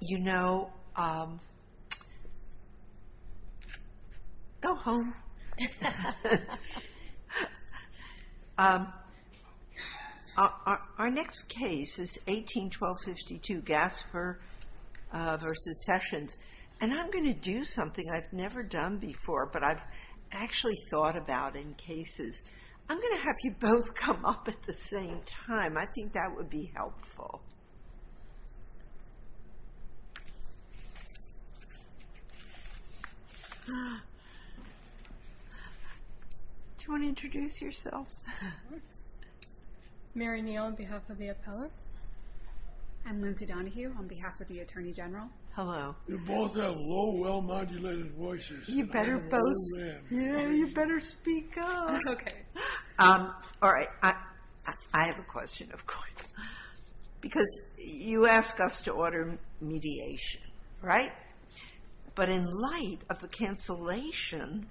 You know, um, go home. Our next case is 18-1252, Gaspar v. Sessions, and I'm going to do something I've never done before, but I've actually thought about in cases. I'm going to have you both come up at the same time. I think that would be helpful. Do you want to introduce yourselves? Mary Neal on behalf of the appellate. I'm Lindsay Donahue on behalf of the Attorney General. Hello. You both have low, well-modulated voices. Yeah, you better speak up. Okay. All right. I have a question, of course, because you asked us to order mediation, right? But in light of the cancellation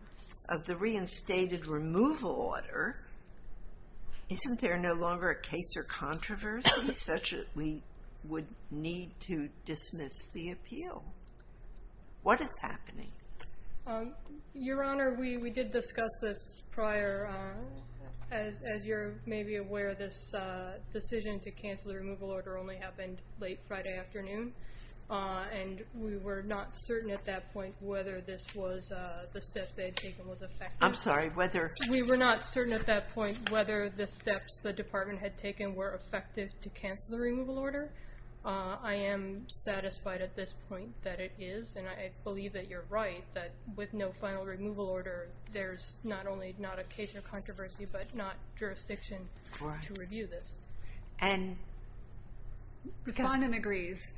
of the reinstated removal order, isn't there no longer a case or controversy such that we would need to dismiss the appeal? What is happening? Um, Your Honor, we did discuss this prior. As you're maybe aware, this decision to cancel the removal order only happened late Friday afternoon, and we were not certain at that point whether this was the steps they had taken was effective. I'm sorry, whether... We were not certain at that point whether the steps the department had taken were effective to cancel the removal order. I am satisfied at this point that it is, and I believe that you're right, that with no final removal order, there's not only not a case of controversy, but not jurisdiction to review this. And... Respondent agrees.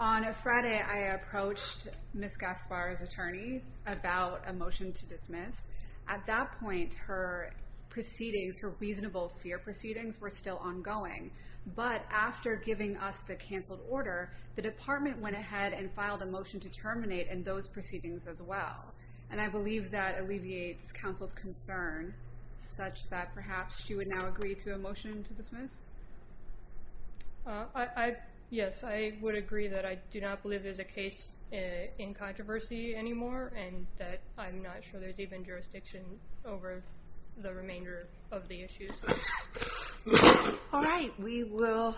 On a Friday, I approached Ms. Gaspar's attorney about a motion to dismiss. At that point, her proceedings, her reasonable fear proceedings, were still ongoing. But after giving us the canceled order, the department went ahead and filed a motion to dismiss. And I believe that alleviates counsel's concern such that perhaps you would now agree to a motion to dismiss? Yes, I would agree that I do not believe there's a case in controversy anymore, and that I'm not sure there's even jurisdiction over the remainder of the issues. All right, we will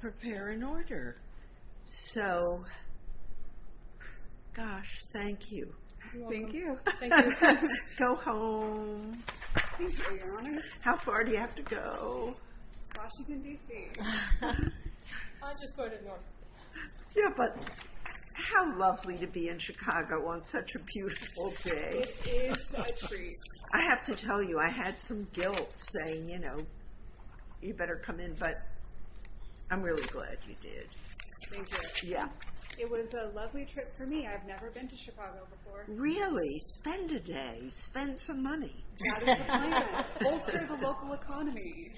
prepare an order. So... Gosh, thank you. Thank you. Go home. How far do you have to go? Washington, D.C. I'll just go to Newark. Yeah, but how lovely to be in Chicago on such a beautiful day. It is a treat. I have to tell you, I had some guilt saying, you know, but I'm really glad you did. Thank you. Yeah. It was a lovely trip for me. I've never been to Chicago before. Really? Spend a day. Spend some money. Bolster the local economy.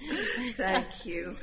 Thank you.